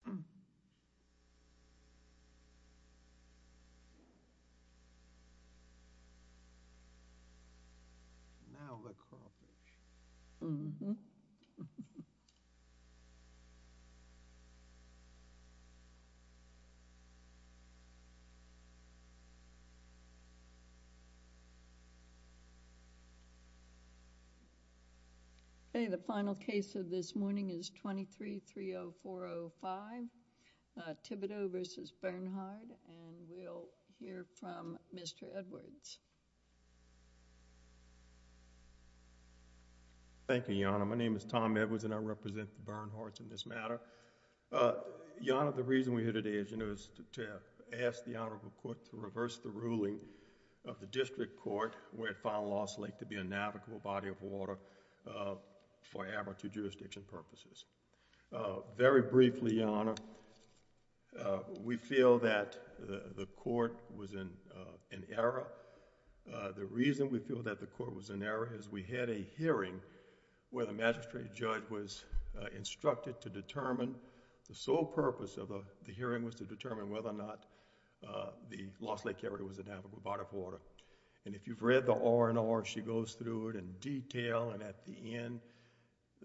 Brown vs. Charles Thibodeaux Thibodeaux vs. Bernhard. And we'll hear from Mr. Edwards. Thank you, Your Honor. My name is Tom Edwards and I represent the Bernhards in this matter. Your Honor, the reason we're here today, as you know, is to ask the Honorable Court to reverse the ruling of the District Court where it found Lost Lake to be a navigable body of water for Abertu jurisdiction purposes. Very briefly, Your Honor, we feel that the Court was in error. The reason we feel that the Court was in error is we had a hearing where the Magistrate Judge was instructed to determine, the sole purpose of the hearing was to determine whether or not the Lost Lake area was a navigable body of water. And if you've read the R&R, she goes through it in detail and at the end,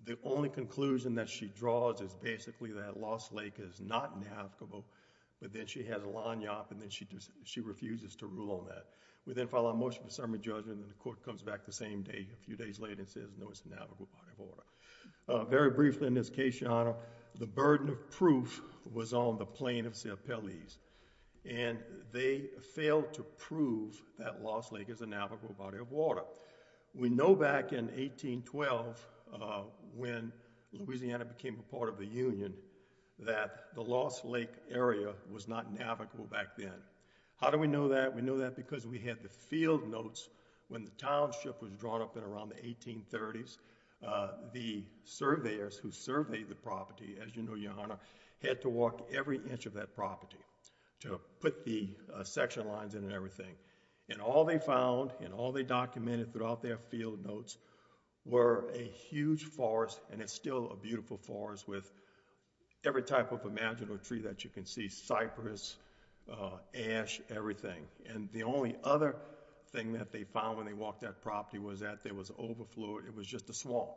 the only conclusion that she draws is basically that Lost Lake is not navigable, but then she has a line up and then she refuses to rule on that. We then file a motion for summary judgment and the Court comes back the same day, a few days later, and says, no, it's a navigable body of water. Very briefly in this case, Your Honor, the burden of proof was on the plaintiff's appellees and they failed to prove that Lost Lake is a navigable body of water. We know back in 1812 when Louisiana became a part of the Union, that the Lost Lake area was not navigable back then. How do we know that? We know that because we had the field notes when the township was drawn up in around the 1830s. The surveyors who surveyed the property, as you know, Your Honor, had to walk every inch of that property to put the section lines in and everything. And all they found and all they documented throughout their field notes were a huge forest and it's still a beautiful forest with every type of imaginable tree that you can see, cypress, ash, everything. And the only other thing that they found when they walked that property was that it was overflowed, it was just a swamp.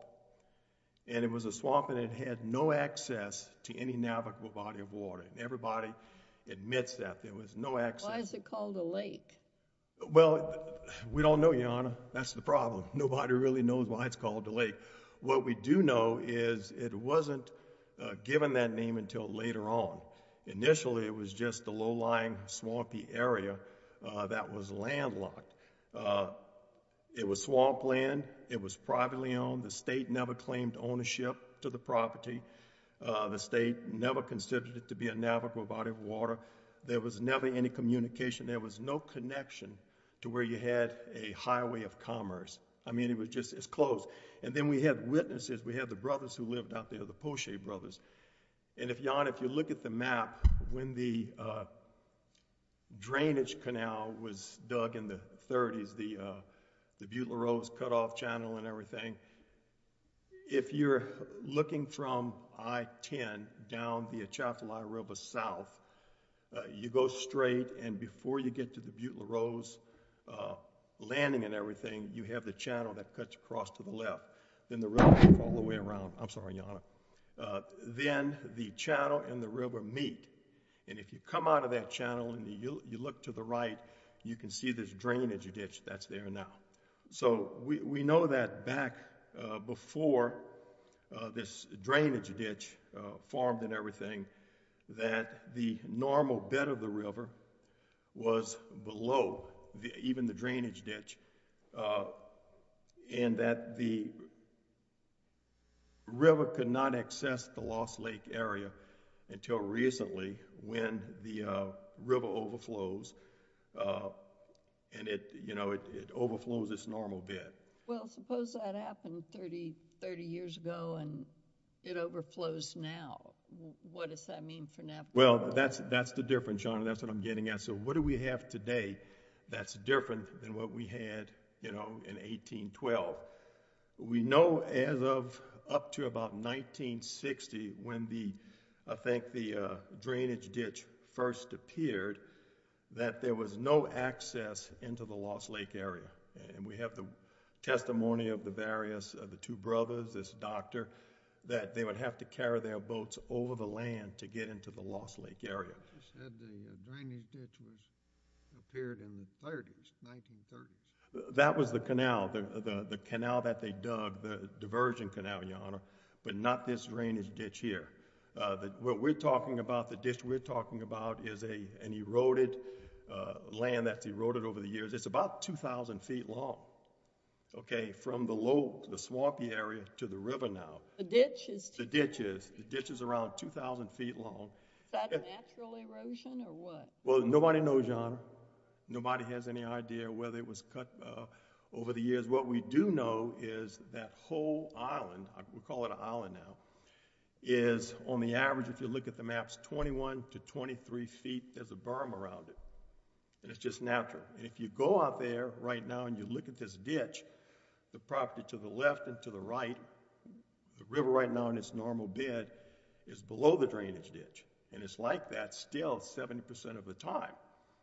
And it was a swamp and it had no access to any navigable body of water. Everybody admits that. There was no access. Why is it called a lake? Well, we don't know, Your Honor. That's the problem. Nobody really knows why it's called a lake. What we do know is it wasn't given that name until later on. Initially it was just a low-lying, swampy area that was landlocked. It was swamp land. It was privately owned. The state never claimed ownership to the property. The state never considered it to be a navigable body of water. There was never any communication. There was no connection to where you had a highway of commerce. I mean, it was just closed. And then we had witnesses. We had the brothers who lived out there, the Poche brothers. And, Your Honor, if you look at the map, when the drainage canal was dug in the 30s, the Butler Rose cut-off channel and everything, if you're looking from I-10 down the Atchafalaya River south, you go straight and before you get to the Butler Rose landing and everything, you have the channel that cuts across to the left. Then the river all the way around. I'm sorry, Your Honor. Then the channel and the river meet. And if you come out of that channel and you look to the right, you can see this drainage ditch that's there now. So we know that back before this drainage ditch formed and everything, that the normal bed of the river was below even the drainage ditch, and that the river could not access the Lost Lake area until recently when the river overflows and it overflows its normal bed. Well, suppose that happened 30 years ago and it overflows now. What does that mean for Napa? Well, that's the difference, Your Honor. That's what I'm getting at. So what do we have today that's different than what we had in 1812? We know as of up to about 1960 when I think the drainage ditch first appeared that there was no access into the Lost Lake area. We have the testimony of the two brothers, this doctor, that they would have to carry their boats over the land to get into the Lost Lake area. You said the drainage ditch appeared in the 1930s. That was the canal, the canal that they dug, the diversion canal, Your Honor, but not this drainage ditch here. What we're talking about, the ditch we're talking about, is an eroded land that's eroded over the years. It's about 2,000 feet long, okay, from the swampy area to the river now. The ditch is? The ditch is. The ditch is around 2,000 feet long. Is that a natural erosion or what? Well, nobody knows, Your Honor. Nobody has any idea whether it was cut over the years. What we do know is that whole island, we call it an island now, is on the average, if you look at the maps, 21 to 23 feet. There's a berm around it, and it's just natural. If you go out there right now and you look at this ditch, the property to the left and to the right, the river right now in its normal bed is below the drainage ditch, and it's like that still 70% of the time.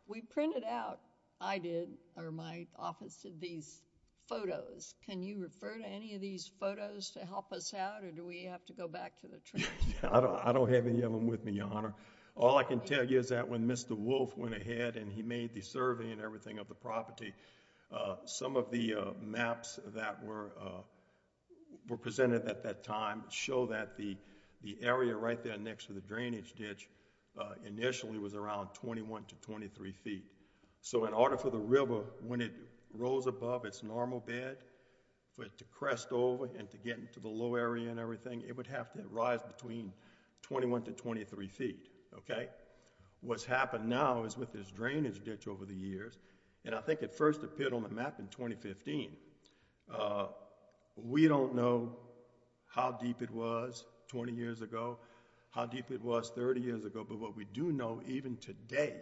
We printed out, I did, or my office did, these photos. Can you refer to any of these photos to help us out, or do we have to go back to the tree? I don't have any of them with me, Your Honor. All I can tell you is that when Mr. Wolf went ahead and he made the survey and everything of the property, some of the maps that were presented at that time show that the area right there next to the drainage ditch initially was around 21 to 23 feet. So in order for the river, when it rose above its normal bed, for it to crest over and to get into the low area and everything, it would have to rise between 21 to 23 feet. What's happened now is with this drainage ditch over the years, and I think it first appeared on the map in 2015, we don't know how deep it was 20 years ago, how deep it was 30 years ago, but what we do know even today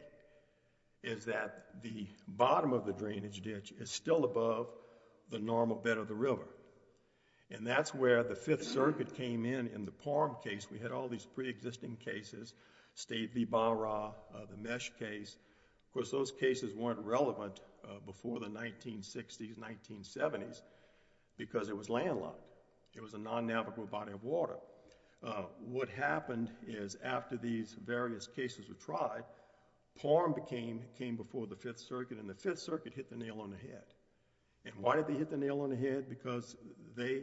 is that the bottom of the drainage ditch is still above the normal bed of the river. That's where the Fifth Circuit came in in the Parham case. We had all these pre-existing cases, State v. Ballarat, the Meche case. Of course, those cases weren't relevant before the 1960s, 1970s because it was landlocked. It was a non-navigable body of water. What happened is after these various cases were tried, Parham came before the Fifth Circuit and the Fifth Circuit hit the nail on the head. Why did they hit the nail on the head? Because they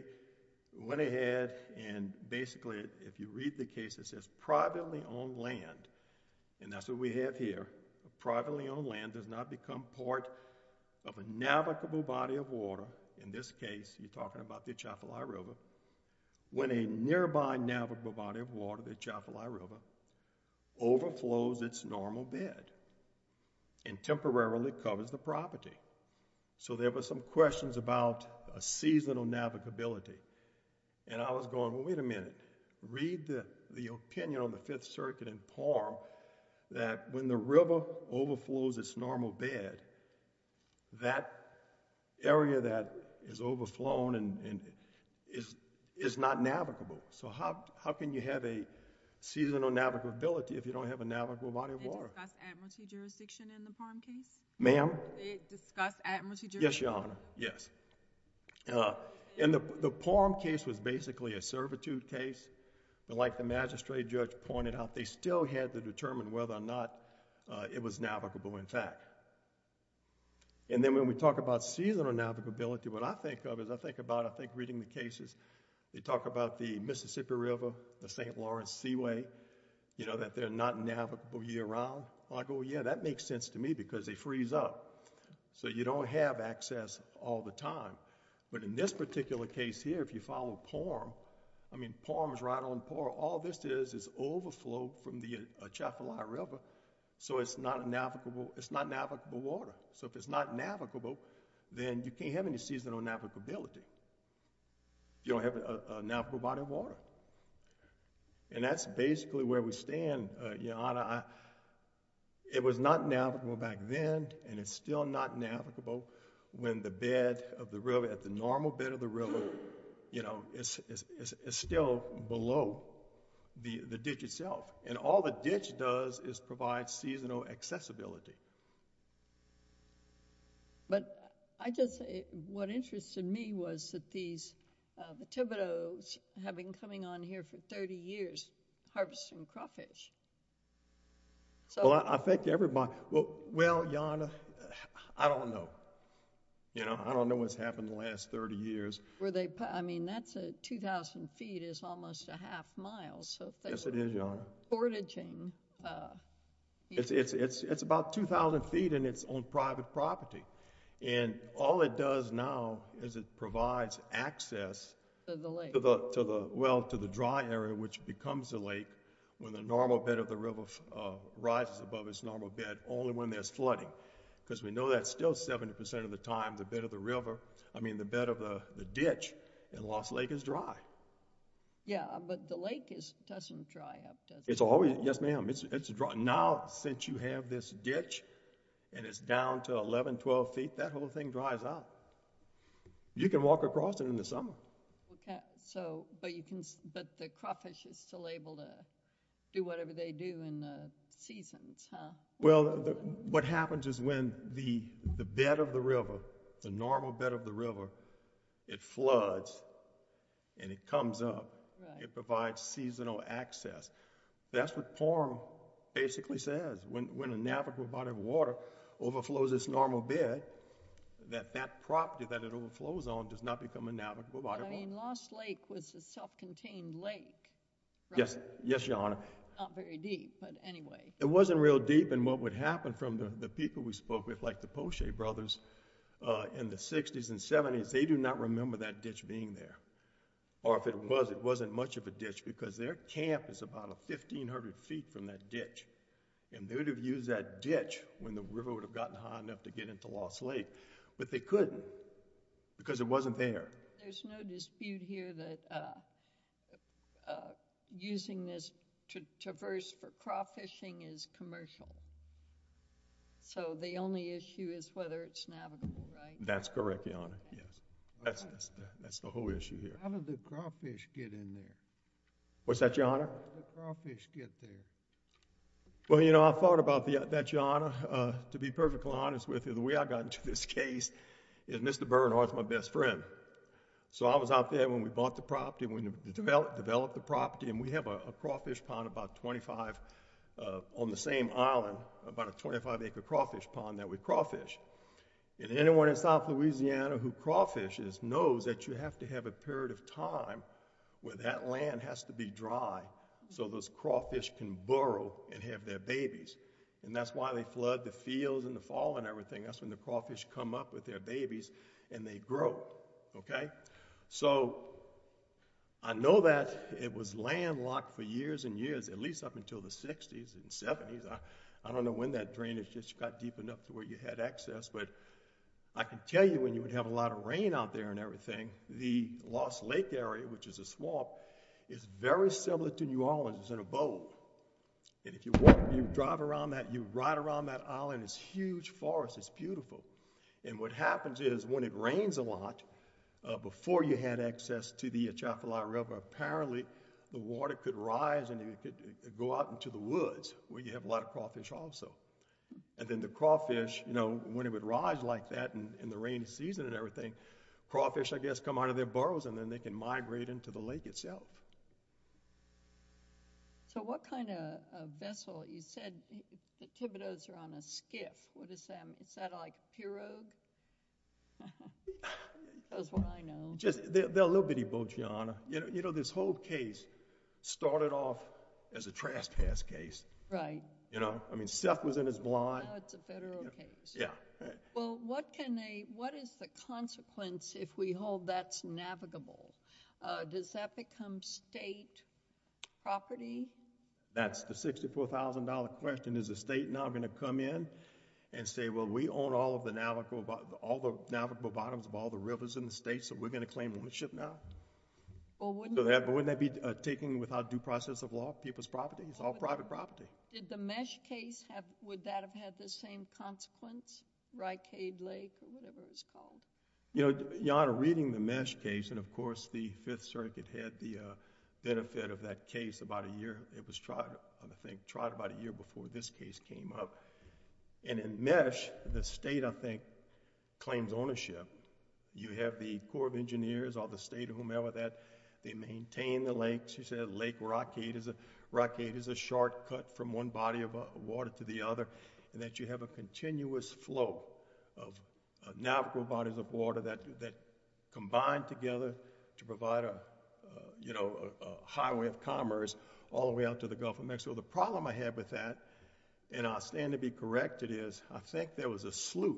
went ahead and basically, if you read the case, it says, privately owned land, and that's what we have here, privately owned land does not become part of a navigable body of water. In this case, you're talking about the Atchafalaya River. When a nearby navigable body of water, the Atchafalaya River, overflows its normal bed and temporarily covers the property. So there were some questions about a seasonal navigability, and I was going, well, wait a minute. Read the opinion on the Fifth Circuit in Parham that when the river overflows its normal bed, that area that is overflown is not navigable. So how can you have a seasonal navigability if you don't have a navigable body of water? Did they discuss admiralty jurisdiction in the Parham case? Ma'am? Did they discuss admiralty jurisdiction? Yes, Your Honor, yes. And the Parham case was basically a servitude case. Like the magistrate judge pointed out, they still had to determine whether or not it was navigable intact. And then when we talk about seasonal navigability, what I think of is I think about, I think reading the cases, they talk about the Mississippi River, the St. Lawrence Seaway, you know, that they're not navigable year-round. I go, yeah, that makes sense to me because they freeze up. So you don't have access all the time. But in this particular case here, if you follow Parham, I mean Parham is right on par. All this is is overflow from the Atchafalaya River, so it's not navigable water. So if it's not navigable, then you can't have any seasonal navigability. You don't have a navigable body of water. And that's basically where we stand, Your Honor. It was not navigable back then, and it's still not navigable when the bed of the river, at the normal bed of the river, you know, it's still below the ditch itself. And all the ditch does is provide seasonal accessibility. But I just, what interested me was that these vitivodos have been coming on here for 30 years harvesting crawfish. Well, I thank everybody. Well, Your Honor, I don't know. You know, I don't know what's happened the last 30 years. I mean, that's 2,000 feet is almost a half mile. Yes, it is, Your Honor. So they're foraging. It's about 2,000 feet, and it's on private property. And all it does now is it provides access to the lake. Well, to the dry area, which becomes the lake when the normal bed of the river rises above its normal bed, only when there's flooding. Because we know that still 70% of the time, the bed of the river, I mean, the bed of the ditch in Lost Lake is dry. Yeah, but the lake doesn't dry up, does it? It's always, yes, ma'am. It's dry. Now, since you have this ditch, and it's down to 11, 12 feet, that whole thing dries out. You can walk across it in the summer. OK, but the crawfish is still able to do whatever they do in the seasons, huh? Well, what happens is when the bed of the river, the normal bed of the river, it floods, and it comes up. It provides seasonal access. That's what Porm basically says. When a navigable body of water overflows its normal bed, that that property that it overflows on does not become a navigable body of water. I mean, Lost Lake was a self-contained lake, right? Yes, Your Honor. Not very deep, but anyway. It wasn't real deep. And what would happen from the people we spoke with, like the Poche brothers in the 60s and 70s, they do not remember that ditch being there. Or if it was, it wasn't much of a ditch, because their camp is about 1,500 feet from that ditch. And they would have used that ditch when the river would have gotten high enough to get into Lost Lake. But they couldn't, because it wasn't there. There's no dispute here that using this to traverse for crawfishing is commercial. So the only issue is whether it's navigable, right? That's correct, Your Honor, yes. That's the whole issue here. How did the crawfish get in there? What's that, Your Honor? How did the crawfish get there? Well, you know, I've thought about that, Your Honor. To be perfectly honest with you, the way I got into this case is Mr. Bernhardt's my best friend. So I was out there when we bought the property, when we developed the property. And we have a crawfish pond about 25, on the same island, about a 25-acre crawfish pond that we crawfish. And anyone in South Louisiana who crawfishes knows that you have to have a period of time where that land has to be dry so those crawfish can burrow and have their babies. And that's why they flood the fields in the fall and everything. That's when the crawfish come up with their babies and they grow, OK? So I know that it was landlocked for years and years, at least up until the 60s and 70s. I don't know when that drainage just got deep enough to where you had access. But I can tell you when you would have a lot of rain area, which is a swamp, is very similar to New Orleans. It's in a bowl. And if you drive around that, you ride around that island, it's a huge forest. It's beautiful. And what happens is when it rains a lot, before you had access to the Atchafalaya River, apparently the water could rise and it could go out into the woods where you have a lot of crawfish also. And then the crawfish, when it would rise like that in the rainy season and everything, crawfish, I guess, come out of their burrows and then they can migrate into the lake itself. So what kind of vessel? You said the Thibodeaux are on a skiff. What is that? Is that like a pirogue? That's what I know. They're a little bitty boat, Your Honor. You know, this whole case started off as a trespass case. Right. I mean, Seth was in his blind. Now it's a federal case. Yeah. Right. Well, what is the consequence if we hold that's navigable? Does that become state property? That's the $64,000 question. Is the state now going to come in and say, well, we own all of the navigable bottoms of all the rivers in the state, so we're going to claim ownership now? Wouldn't that be taken without due process of law, people's property? It's all private property. Did the Meche case, would that have had the same consequence, Rycave Lake or whatever it's called? You know, Your Honor, reading the Meche case, and of course, the Fifth Circuit had the benefit of that case about a year. It was tried, I think, tried about a year before this case came up. And in Meche, the state, I think, claims ownership. You have the Corps of Engineers or the state or whomever that they maintain the lakes. You said Lake Rockade is a shortcut from one body of water to the other, and that you have a continuous flow of navigable bodies of water that combine together to provide a highway of commerce all the way out to the Gulf of Mexico. The problem I have with that, and I stand to be corrected, is I think there was a slough.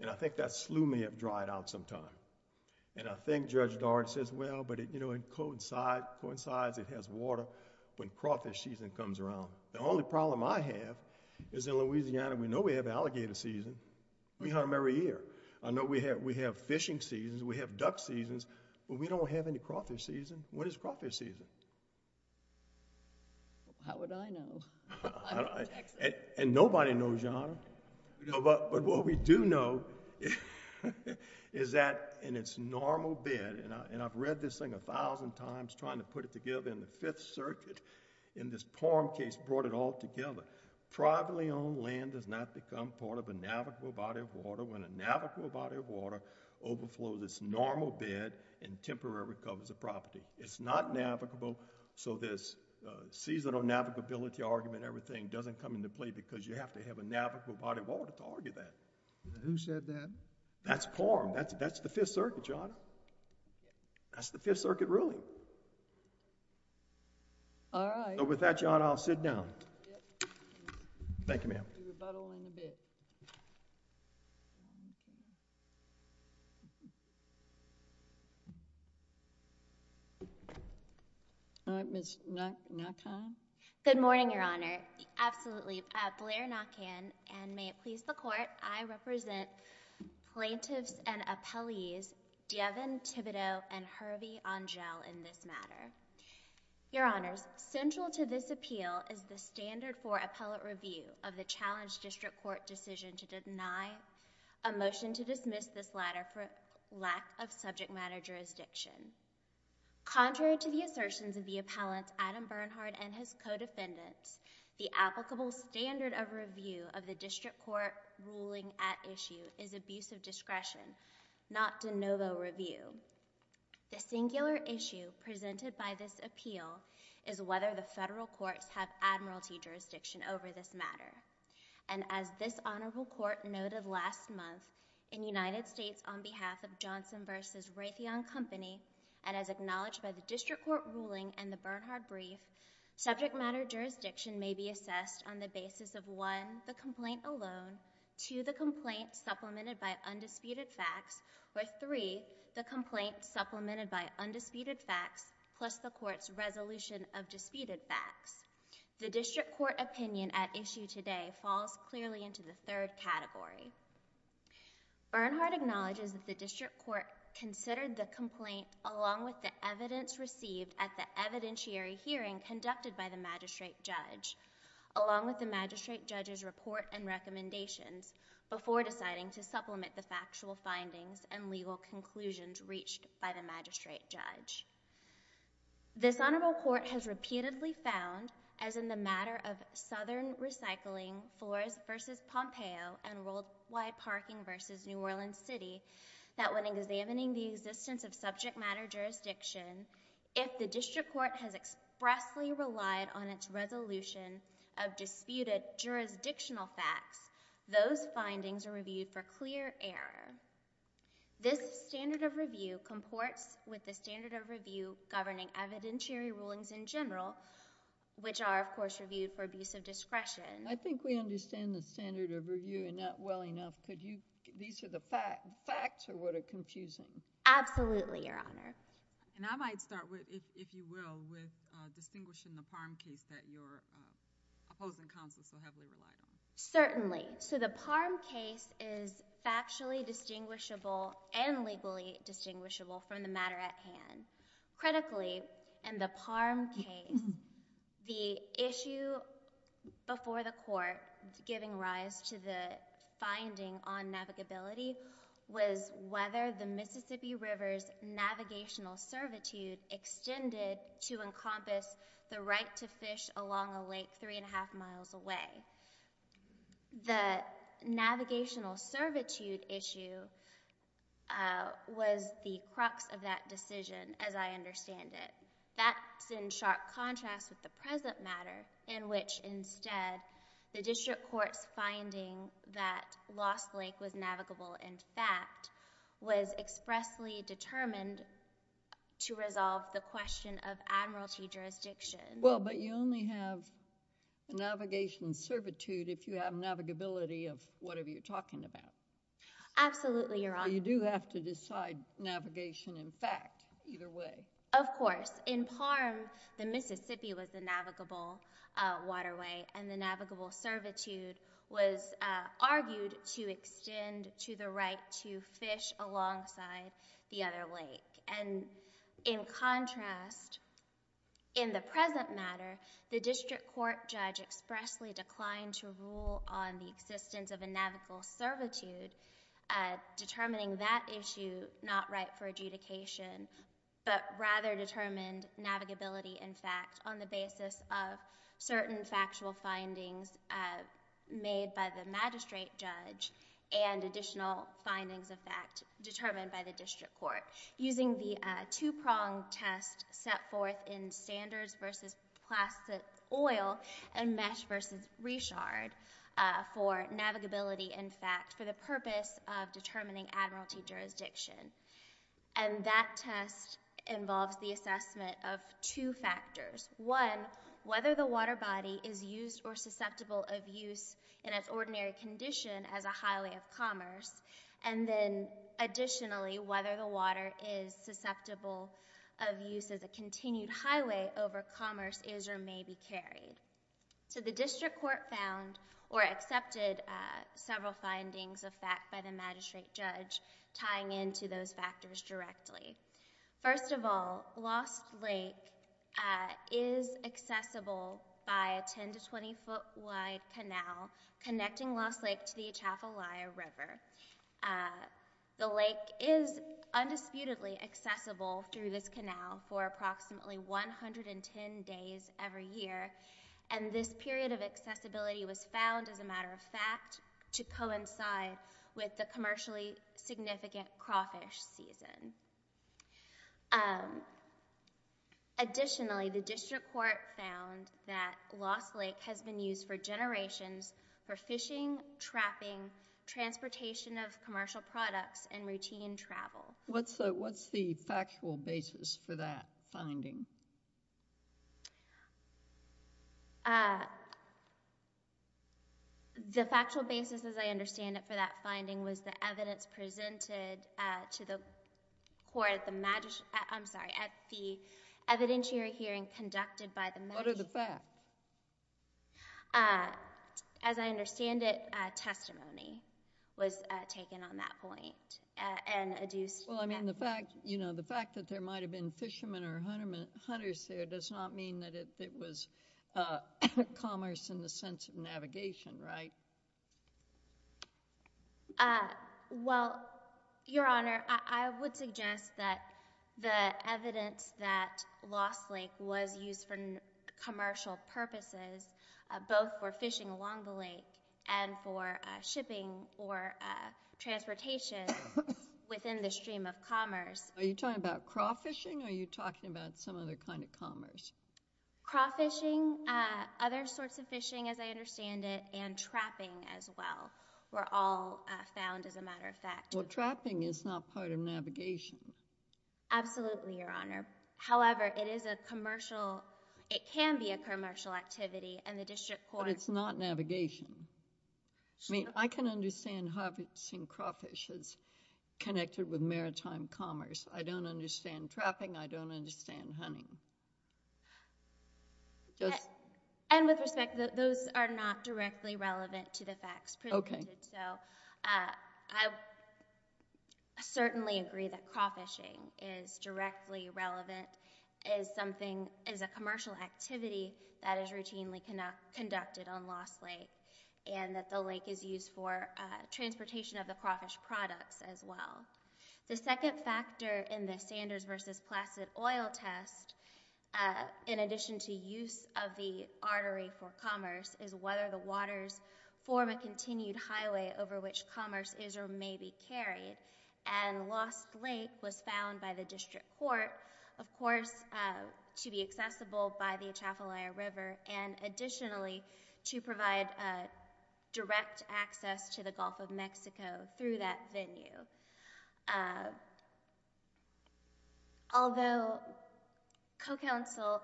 And I think that slough may have dried out sometime. And I think Judge Doran says, well, but it coincides. It has water when crawfish season comes around. The only problem I have is in Louisiana, we know we have alligator season. We hunt them every year. I know we have fishing seasons. We have duck seasons, but we don't have any crawfish season. What is crawfish season? How would I know? And nobody knows, Your Honor. But what we do know is that in its normal bed, and I've read this thing 1,000 times trying to put it together in the Fifth Circuit, in this Parham case brought it all together. Privately owned land does not become part of a navigable body of water when a navigable body of water overflows its normal bed and temporary recovers the property. It's not navigable. So this seasonal navigability argument, everything, doesn't come into play because you have to have a navigable body of water to argue that. Who said that? That's Parham. That's the Fifth Circuit, Your Honor. That's the Fifth Circuit ruling. All right. So with that, Your Honor, I'll sit down. Thank you, ma'am. You rebuttal in a bit. All right, Ms. Nockhan. Good morning, Your Honor. Absolutely. Blair Nockhan, and may it please the Court, I represent plaintiffs and appellees Devin Thibodeau and Hervey Angel in this matter. Your Honors, central to this appeal is the standard for appellate review of the challenge district court decision to deny a motion to dismiss this latter for lack of subject matter jurisdiction. Contrary to the assertions of the appellants Adam Bernhard and his co-defendants, the applicable standard of review of the district court ruling at issue is abuse of discretion, not de novo review. The singular issue presented by this appeal is whether the federal courts have admiralty jurisdiction over this matter. And as this honorable court noted last month, in United States on behalf of Johnson versus Raytheon Company, and as acknowledged by the district court ruling and the Bernhard brief, subject matter jurisdiction may be assessed on the basis of, one, the complaint alone, two, the complaint supplemented by undisputed facts, or three, the complaint supplemented by undisputed facts plus the court's resolution of disputed facts. The district court opinion at issue today falls clearly into the third category. Bernhard acknowledges that the district court considered the complaint along with the evidence received at the evidentiary hearing conducted by the magistrate judge, along with the magistrate judge's report and recommendations, before deciding to supplement the factual findings and legal conclusions reached by the magistrate judge. This honorable court has repeatedly found, as in the matter of Southern Recycling, Forests versus Pompeo, and Worldwide Parking versus New Orleans City, that when examining the existence of subject matter jurisdiction, if the district court has expressly relied on its resolution of disputed jurisdictional facts, those findings are reviewed for clear error. This standard of review comports with the standard of review governing evidentiary rulings in general, which are, of course, reviewed for abuse of discretion. I think we understand the standard of review and not well enough. These are the facts, or what are confusing? Absolutely, Your Honor. And I might start, if you will, with distinguishing the farm case that your opposing counsel so heavily relied on. Certainly. So the parm case is factually distinguishable and legally distinguishable from the matter at hand. Critically, in the parm case, the issue before the court giving rise to the finding on navigability was whether the Mississippi River's navigational servitude extended to encompass the right to fish along a lake 3 and 1 half miles away. The navigational servitude issue was the crux of that decision, as I understand it. That's in sharp contrast with the present matter, in which, instead, the district court's finding that Lost Lake was navigable in fact was expressly determined to resolve the question of admiralty jurisdiction. Well, but you only have navigation servitude if you have navigability of whatever you're talking about. Absolutely, Your Honor. You do have to decide navigation in fact, either way. Of course. In parm, the Mississippi was the navigable waterway, and the navigable servitude was argued to extend to the right to fish alongside the other lake. And in contrast, in the present matter, the district court judge expressly declined to rule on the existence of a navigable servitude, determining that issue not right for adjudication, but rather determined navigability in fact on the basis of certain factual findings made by the magistrate judge and additional findings of fact determined by the district court. Using the two-prong test set forth in standards versus plastic oil and mesh versus re-shard for navigability in fact for the purpose of determining admiralty jurisdiction. And that test involves the assessment of two factors. One, whether the water body is used or susceptible of use in its ordinary condition as a highway of commerce. And then additionally, whether the water is susceptible of use as a continued highway over commerce is or may be carried. So the district court found or accepted several findings of fact by the magistrate judge tying into those factors directly. First of all, Lost Lake is accessible by a 10 to 20 foot wide canal connecting Lost Lake to the Atchafalaya River. The lake is undisputedly accessible through this canal for approximately 110 days every year. And this period of accessibility was found as a matter of fact to coincide with the commercially significant crawfish season. Additionally, the district court found that Lost Lake has been used for generations for fishing, trapping, transportation of commercial products, and routine travel. What's the factual basis for that finding? The factual basis, as I understand it, for that finding was the evidence presented to the court at the evidentiary hearing conducted by the magistrate. What are the facts? As I understand it, testimony was taken on that point and adduced from that. Well, I mean the fact that there might have been fishermen or hunters there does not mean that it was commerce in the sense of navigation, right? Well, Your Honor, I would suggest that the evidence that Lost Lake was used for commercial purposes, both for fishing along the lake and for shipping or transportation within the stream of commerce. Are you talking about crawfishing, or are you talking about some other kind of commerce? Crawfishing, other sorts of fishing, as I understand it, and trapping as well were all found as a matter of fact. Well, trapping is not part of navigation. Absolutely, Your Honor. However, it is a commercial, it can be a commercial activity and the district court. But it's not navigation. I mean, I can understand how I've seen crawfish as connected with maritime commerce. I don't understand trapping. I don't understand hunting. And with respect, those are not directly relevant to the facts presented. OK. So I certainly agree that crawfishing is directly relevant as something as a commercial activity that is routinely conducted on Lost Lake. And that the lake is used for transportation of the crawfish products as well. The second factor in the Sanders versus Placid oil test, in addition to use of the artery for commerce, is whether the waters form a continued highway over which commerce is or may be carried. And Lost Lake was found by the district court, of course, to be accessible by the Atchafalaya River and additionally to provide direct access to the Gulf of Mexico through that venue. Although co-counsel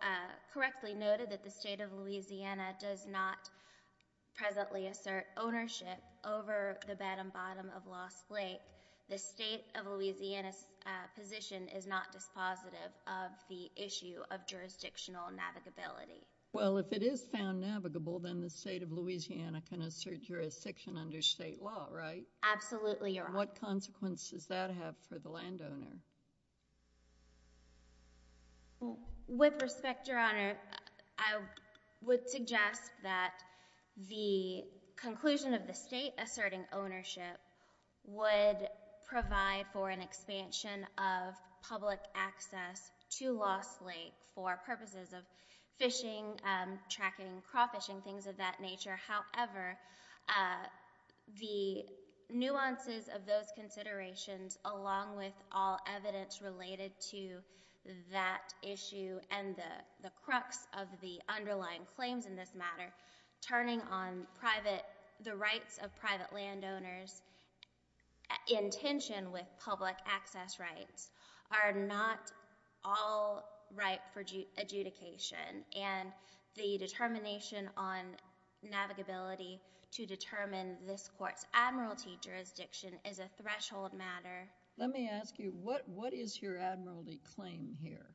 correctly noted that the state of Louisiana does not presently assert ownership over the bottom bottom of Lost Lake, the state of Louisiana's position is not dispositive of the issue of jurisdictional navigability. Well, if it is found navigable, then the state of Louisiana can assert jurisdiction under state law, right? Absolutely, Your Honor. What consequences does that have for the landowner? With respect, Your Honor, I would suggest that the conclusion of the state asserting ownership would provide for an expansion of public access to Lost Lake for purposes of fishing, tracking, crawfishing, things of that nature. However, the nuances of those considerations, along with all evidence related to that issue and the crux of the underlying claims in this matter, turning on the rights of private landowners in tension with public access rights are not all ripe for adjudication. And the determination on navigability to determine this court's admiralty jurisdiction is a threshold matter. Let me ask you, what is your admiralty claim here?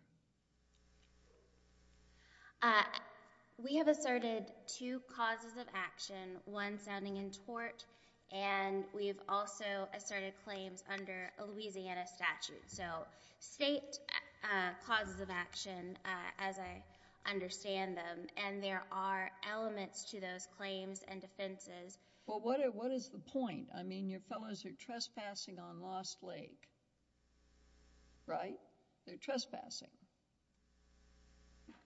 We have asserted two causes of action, one sounding in tort, and we've also asserted claims under a Louisiana statute. So state causes of action, as I understand them, and there are elements to those claims and defenses. Well, what is the point? I mean, your fellows are trespassing on Lost Lake, right? They're trespassing,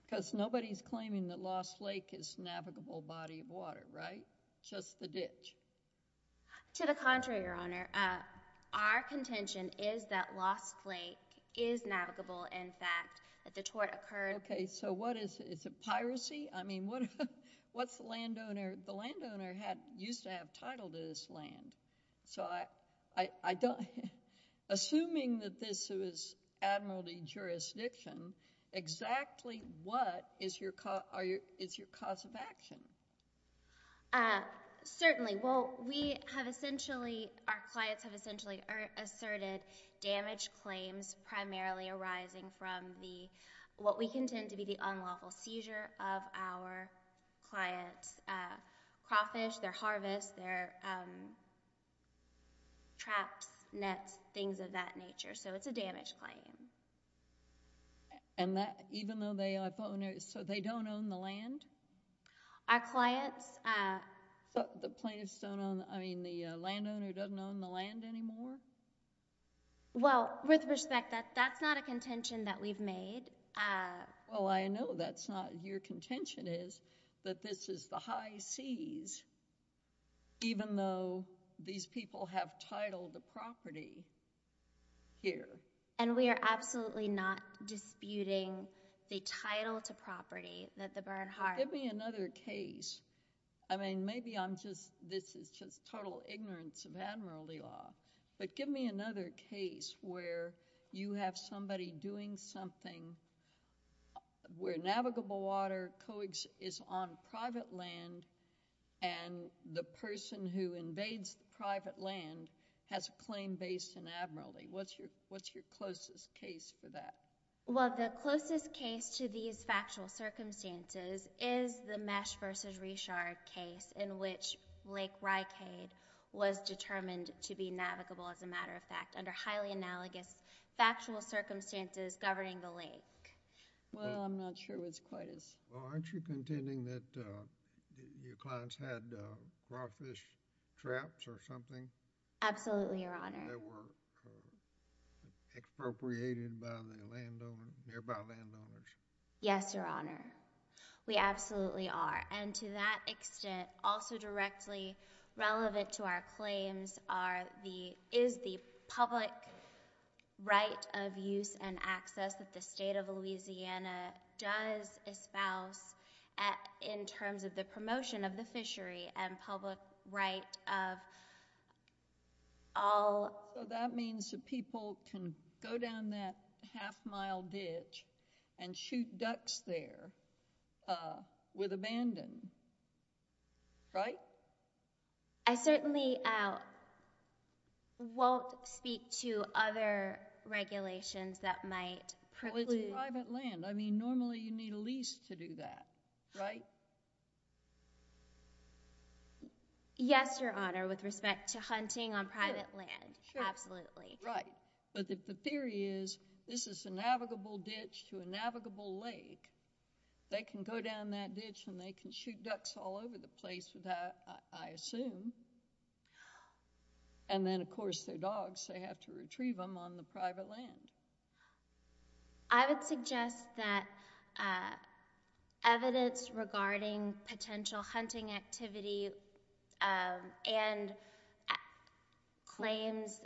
because nobody's claiming that Lost Lake is a navigable body of water, right? Just the ditch. To the contrary, Your Honor. Our contention is that Lost Lake is navigable, and that the tort occurred. OK, so what is it? Is it piracy? I mean, what's the landowner? The landowner used to have title to this land. Assuming that this was admiralty jurisdiction, exactly what is your cause of action? Certainly. Well, we have essentially, our clients have essentially asserted damage claims primarily arising from what we contend to be unlawful seizure of our clients' crawfish, their harvest, their traps, nets, things of that nature. So it's a damage claim. And that, even though they are owners, so they don't own the land? Our clients. So the plaintiffs don't own, I mean, the landowner doesn't own the land anymore? Well, with respect, that's not a contention that we've made. Well, I know that's not. Your contention is that this is the high seas, even though these people have title to property here. And we are absolutely not disputing the title to property that the Bernhardt. Give me another case. I mean, maybe I'm just, this is just total ignorance of admiralty law. But give me another case where you have somebody doing something where navigable water is on private land and the person who invades the private land has a claim based in admiralty. What's your closest case for that? Well, the closest case to these factual circumstances is the Mesh v. Richard case in which Lake Rikade was determined to be navigable, as a matter of fact, under highly analogous factual circumstances governing the lake. Well, I'm not sure it was quite as. Well, aren't you contending that your clients had crawfish traps or something? Absolutely, Your Honor. They were expropriated by the nearby landowners. Yes, Your Honor. We absolutely are. And to that extent, also directly relevant to our claims is the public right of use and access that the state of Louisiana does espouse in terms of the promotion of the fishery and public right of all. So that means that people can go down that half-mile ditch and shoot ducks there with abandon, right? I certainly won't speak to other regulations that might preclude. Well, it's private land. I mean, normally you need a lease to do that, right? Yes, Your Honor, with respect to hunting on private land. Absolutely. Right. But if the theory is this is a navigable ditch to a navigable lake, they can go down that ditch and they can shoot ducks all over the place with that, I assume. And then, of course, they're dogs. They have to retrieve them on the private land. I would suggest that evidence regarding potential hunting activity and claims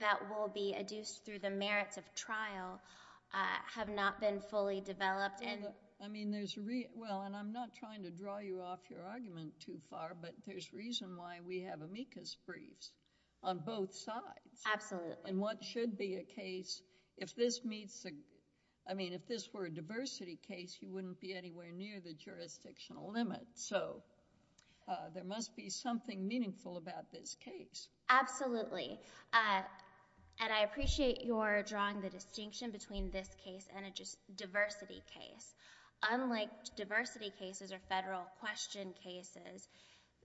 that will be adduced through the merits of trial have not been fully developed. Well, and I'm not trying to draw you off your argument too far, but there's reason why we have amicus briefs on both sides. Absolutely. And what should be a case, if this were a diversity case, you wouldn't be anywhere near the jurisdictional limit. So there must be something meaningful about this case. Absolutely. And I appreciate your drawing the distinction between this case and a diversity case. Unlike diversity cases or federal question cases,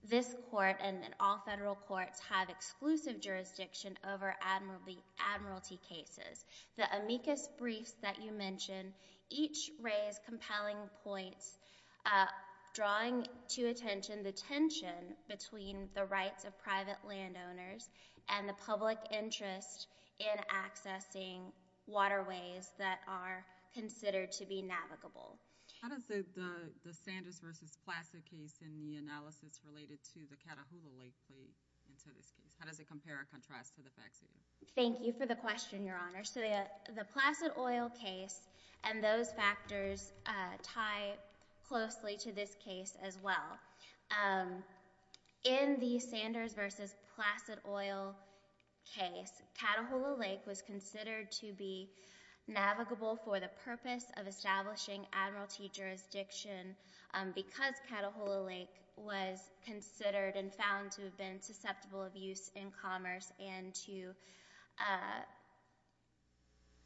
this court and all federal courts have exclusive jurisdiction over admiralty cases. The amicus briefs that you mentioned each raise compelling points drawing to attention the tension between the rights of private landowners and the public interest in accessing waterways that are considered to be navigable. How does the Sanders v. Placid case in the analysis related to the Catahoula Lake play into this case? How does it compare or contrast to the facts? Thank you for the question, Your Honor. So the Placid Oil case and those factors tie closely to this case as well. In the Sanders v. Placid Oil case, Catahoula Lake was considered to be navigable for the purpose of establishing admiralty jurisdiction because Catahoula Lake was considered and found to have been susceptible of use in commerce and to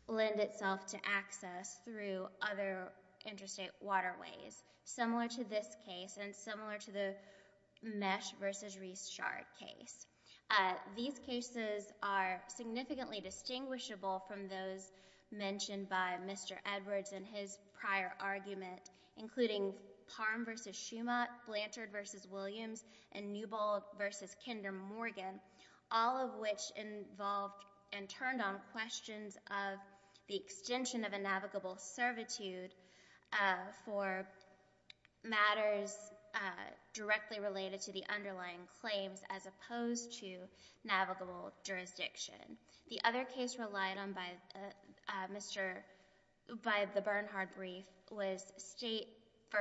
lend itself to access through other interstate waterways. Similar to this case and similar to the Mesh v. Reese-Shard case. These cases are significantly distinguishable from those mentioned by Mr. Edwards in his prior argument, including Parham v. Schumach, Blanchard v. Williams, and Newbold v. Kinder Morgan, all of which involved and turned on questions of the extension of a navigable servitude for matters directly related to the underlying claims as opposed to navigable jurisdiction. The other case relied on by the Bernhardt brief was State v.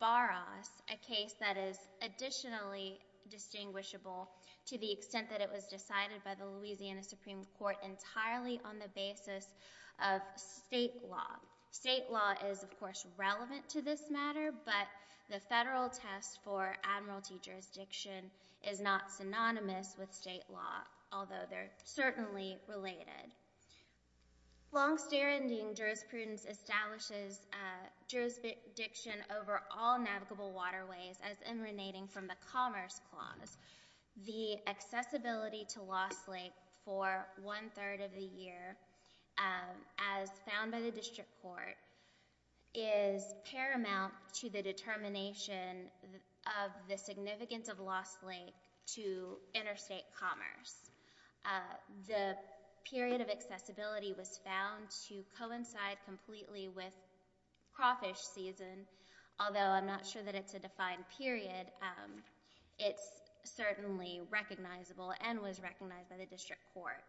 Barras, a case that is additionally distinguishable to the extent that it was decided by the Louisiana Supreme Court entirely on the basis of state law. State law is, of course, relevant to this matter, but the federal test for admiralty jurisdiction is not synonymous with state law, although they're certainly related. Long-standing jurisprudence establishes jurisdiction over all navigable waterways as emanating from the Commerce Clause. The accessibility to Lost Lake for one-third of the year as found by the District Court is paramount to the determination of the significance of Lost Lake to interstate commerce. The period of accessibility was found to coincide completely with crawfish season, although I'm not sure that it's a defined period. It's certainly recognizable and was recognized by the District Court.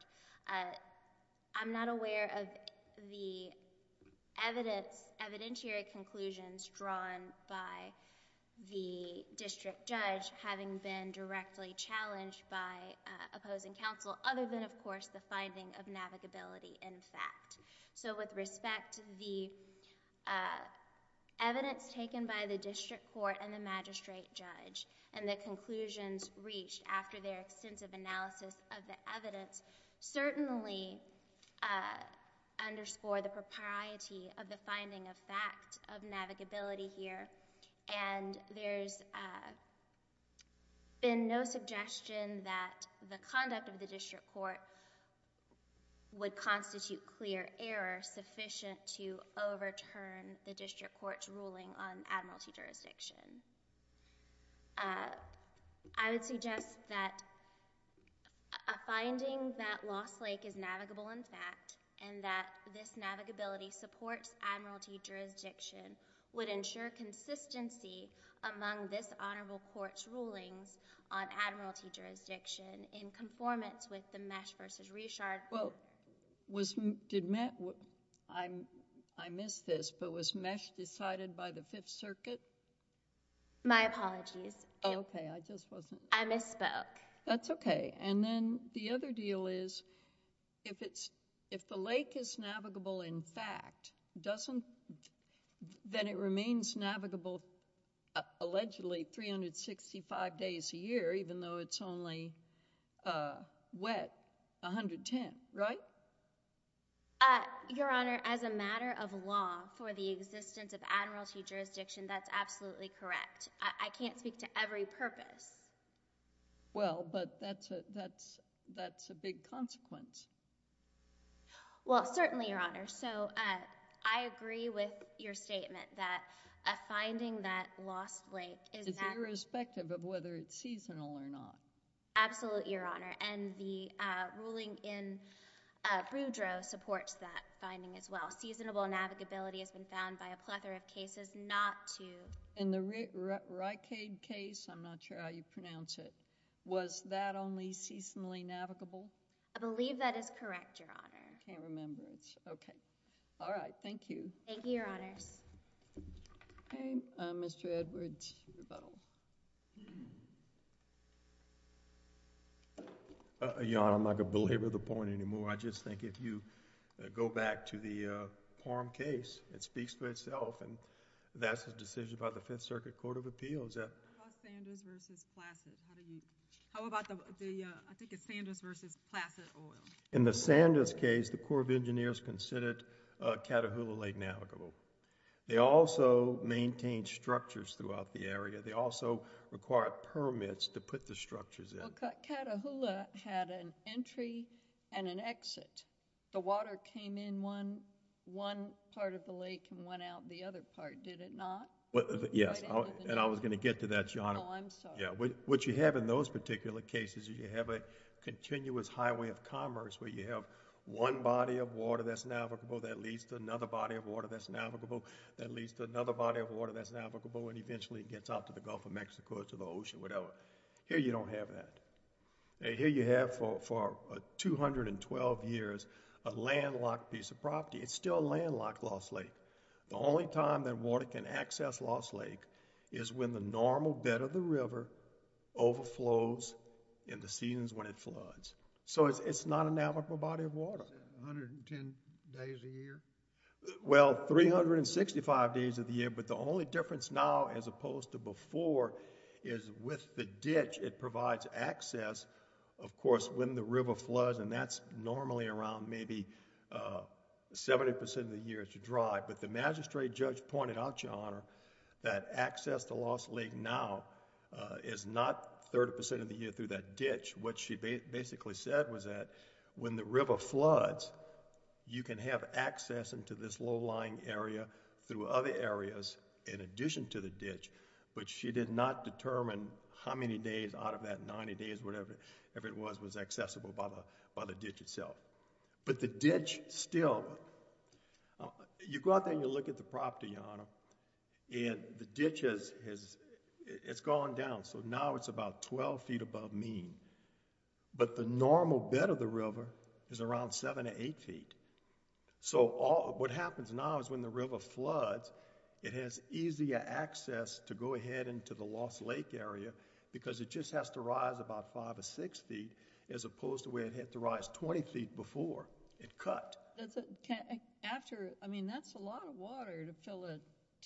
I'm not aware of the evidentiary conclusions drawn by the District Judge, having been directly challenged by opposing counsel, other than, of course, the finding of navigability in fact. With respect to the evidence taken by the District Court and the magistrate judge and the conclusions reached after their extensive analysis of the evidence certainly underscore the propriety of the finding of fact of navigability here, and there's been no suggestion that the conduct of the District Court would constitute clear error sufficient to overturn the District Court's ruling on admiralty jurisdiction. I would suggest that a finding that Lost Lake is navigable in fact and that this navigability supports admiralty jurisdiction would ensure consistency among this honorable court's rulings on admiralty jurisdiction in conformance with the Mesh v. Richard quote. Well, did Mesh... I missed this, but was Mesh decided by the Fifth Circuit? My apologies. Okay, I just wasn't... I misspoke. That's okay, and then the other deal is if the lake is navigable in fact, then it remains navigable allegedly 365 days a year even though it's only wet 110, right? Your Honor, as a matter of law for the existence of admiralty jurisdiction that's absolutely correct. I can't speak to every purpose. Well, but that's a big consequence. Well, certainly, Your Honor. So I agree with your statement that a finding that Lost Lake is... It's irrespective of whether it's seasonal or not. Absolutely, Your Honor, and the ruling in Boudreaux supports that finding as well. Seasonable navigability has been found by a plethora of cases not to... In the Rikade case, I'm not sure how you pronounce it, was that only seasonally navigable? I believe that is correct, Your Honor. I can't remember it. Okay. All right, thank you. Thank you, Your Honors. Okay, Mr. Edwards. Your Honor, I'm not going to belabor the point anymore. I just think if you go back to the Parham case it speaks for itself, and that's a decision by the Fifth Circuit Court of Appeals. How about Sanders v. Placid? How do you... How about the... I think it's Sanders v. Placid Oil. In the Sanders case, the Corps of Engineers considered Catahoula Lake navigable. They also maintained structures throughout the area. They also required permits to put the structures in. Well, Catahoula had an entry and an exit. The water came in one part of the lake and went out the other part, did it not? Yes, and I was going to get to that, Your Honor. Oh, I'm sorry. What you have in those particular cases, you have a continuous highway of commerce where you have one body of water that's navigable that leads to another body of water that's navigable that leads to another body of water that's navigable and eventually gets out to the Gulf of Mexico or to the ocean, whatever. Here you don't have that. Here you have for 212 years a landlocked piece of property. It's still a landlocked Lost Lake. The only time that water can access Lost Lake is when the normal bed of the river overflows in the seasons when it floods. So it's not a navigable body of water. 110 days a year? Well, 365 days of the year, but the only difference now as opposed to before is with the ditch, it provides access, of course, when the river floods and that's normally around maybe 70% of the year to drive, but the magistrate judge pointed out, Your Honor, that access to Lost Lake now is not 30% of the year through that ditch. What she basically said was that when the river floods, you can have access into this low-lying area through other areas in addition to the ditch, but she did not determine how many days out of that, 90 days, whatever it was, was accessible by the ditch itself. But the ditch still... You go out there and you look at the property, Your Honor, and the ditch has gone down, so now it's about 12 feet above mean, but the normal bed of the river is around 7 to 8 feet. So what happens now is when the river floods, it has easier access to go ahead into the Lost Lake area because it just has to rise about 5 or 6 feet as opposed to where it had to rise 20 feet before it cut. That's a lot of water to fill a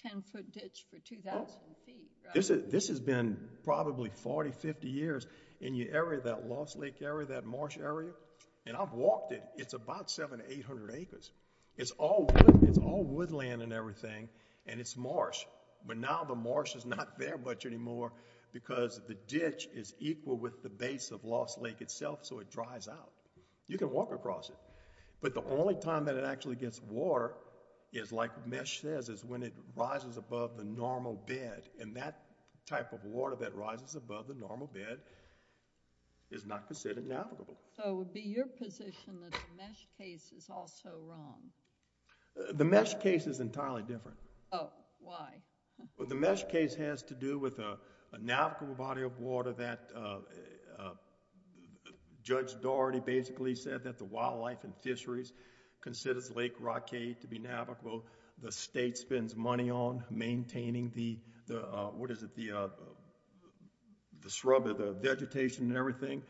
10-foot ditch for 2,000 feet. This has been probably 40, 50 years, and that Lost Lake area, that marsh area, and I've walked it, it's about 700 to 800 acres. It's all woodland and everything, and it's marsh, but now the marsh is not there much anymore because the ditch is equal with the base of Lost Lake itself, so it dries out. You can walk across it, but the only time that it actually gets water is, like Mesh says, is when it rises above the normal bed, and that type of water that rises above the normal bed is not considered navigable. So it would be your position that the Mesh case is also wrong. The Mesh case is entirely different. Oh, why? The Mesh case has to do with a navigable body of water that Judge Daugherty basically said that the wildlife and fisheries considers Lake Rockade to be navigable, the state spends money on maintaining the, what is it, the shrub or the vegetation and everything.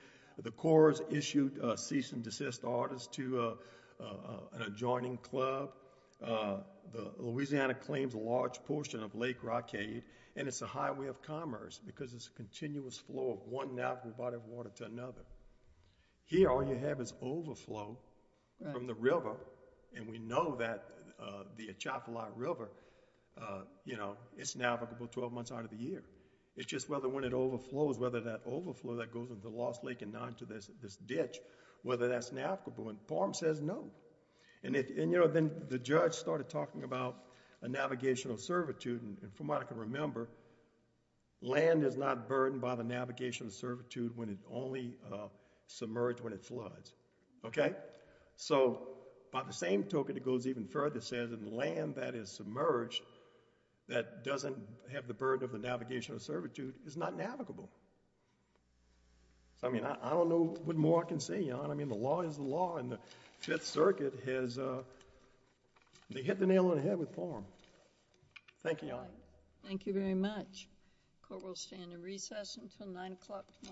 The Corps has issued cease and desist orders to an adjoining club. Louisiana claims a large portion of Lake Rockade, and it's a highway of commerce because it's a continuous flow of one navigable body of water to another. Here all you have is overflow from the river, and we know that the Atchafalaya River, it's navigable 12 months out of the year. It's just whether when it overflows, whether that overflow that goes into Lost Lake and now into this ditch, whether that's navigable, and Parham says no. Then the judge started talking about a navigational servitude, and from what I can remember, land is not burdened by the navigational servitude when it's only submerged when it floods. By the same token, it goes even further. It says that land that is submerged that doesn't have the burden of the navigational servitude is not navigable. I don't know what more I can say, Your Honor. The law is the law, and the Fifth Circuit has hit the nail on the head with Parham. Thank you, Your Honor. Thank you very much. The court will stand in recess until 9 o'clock tomorrow morning.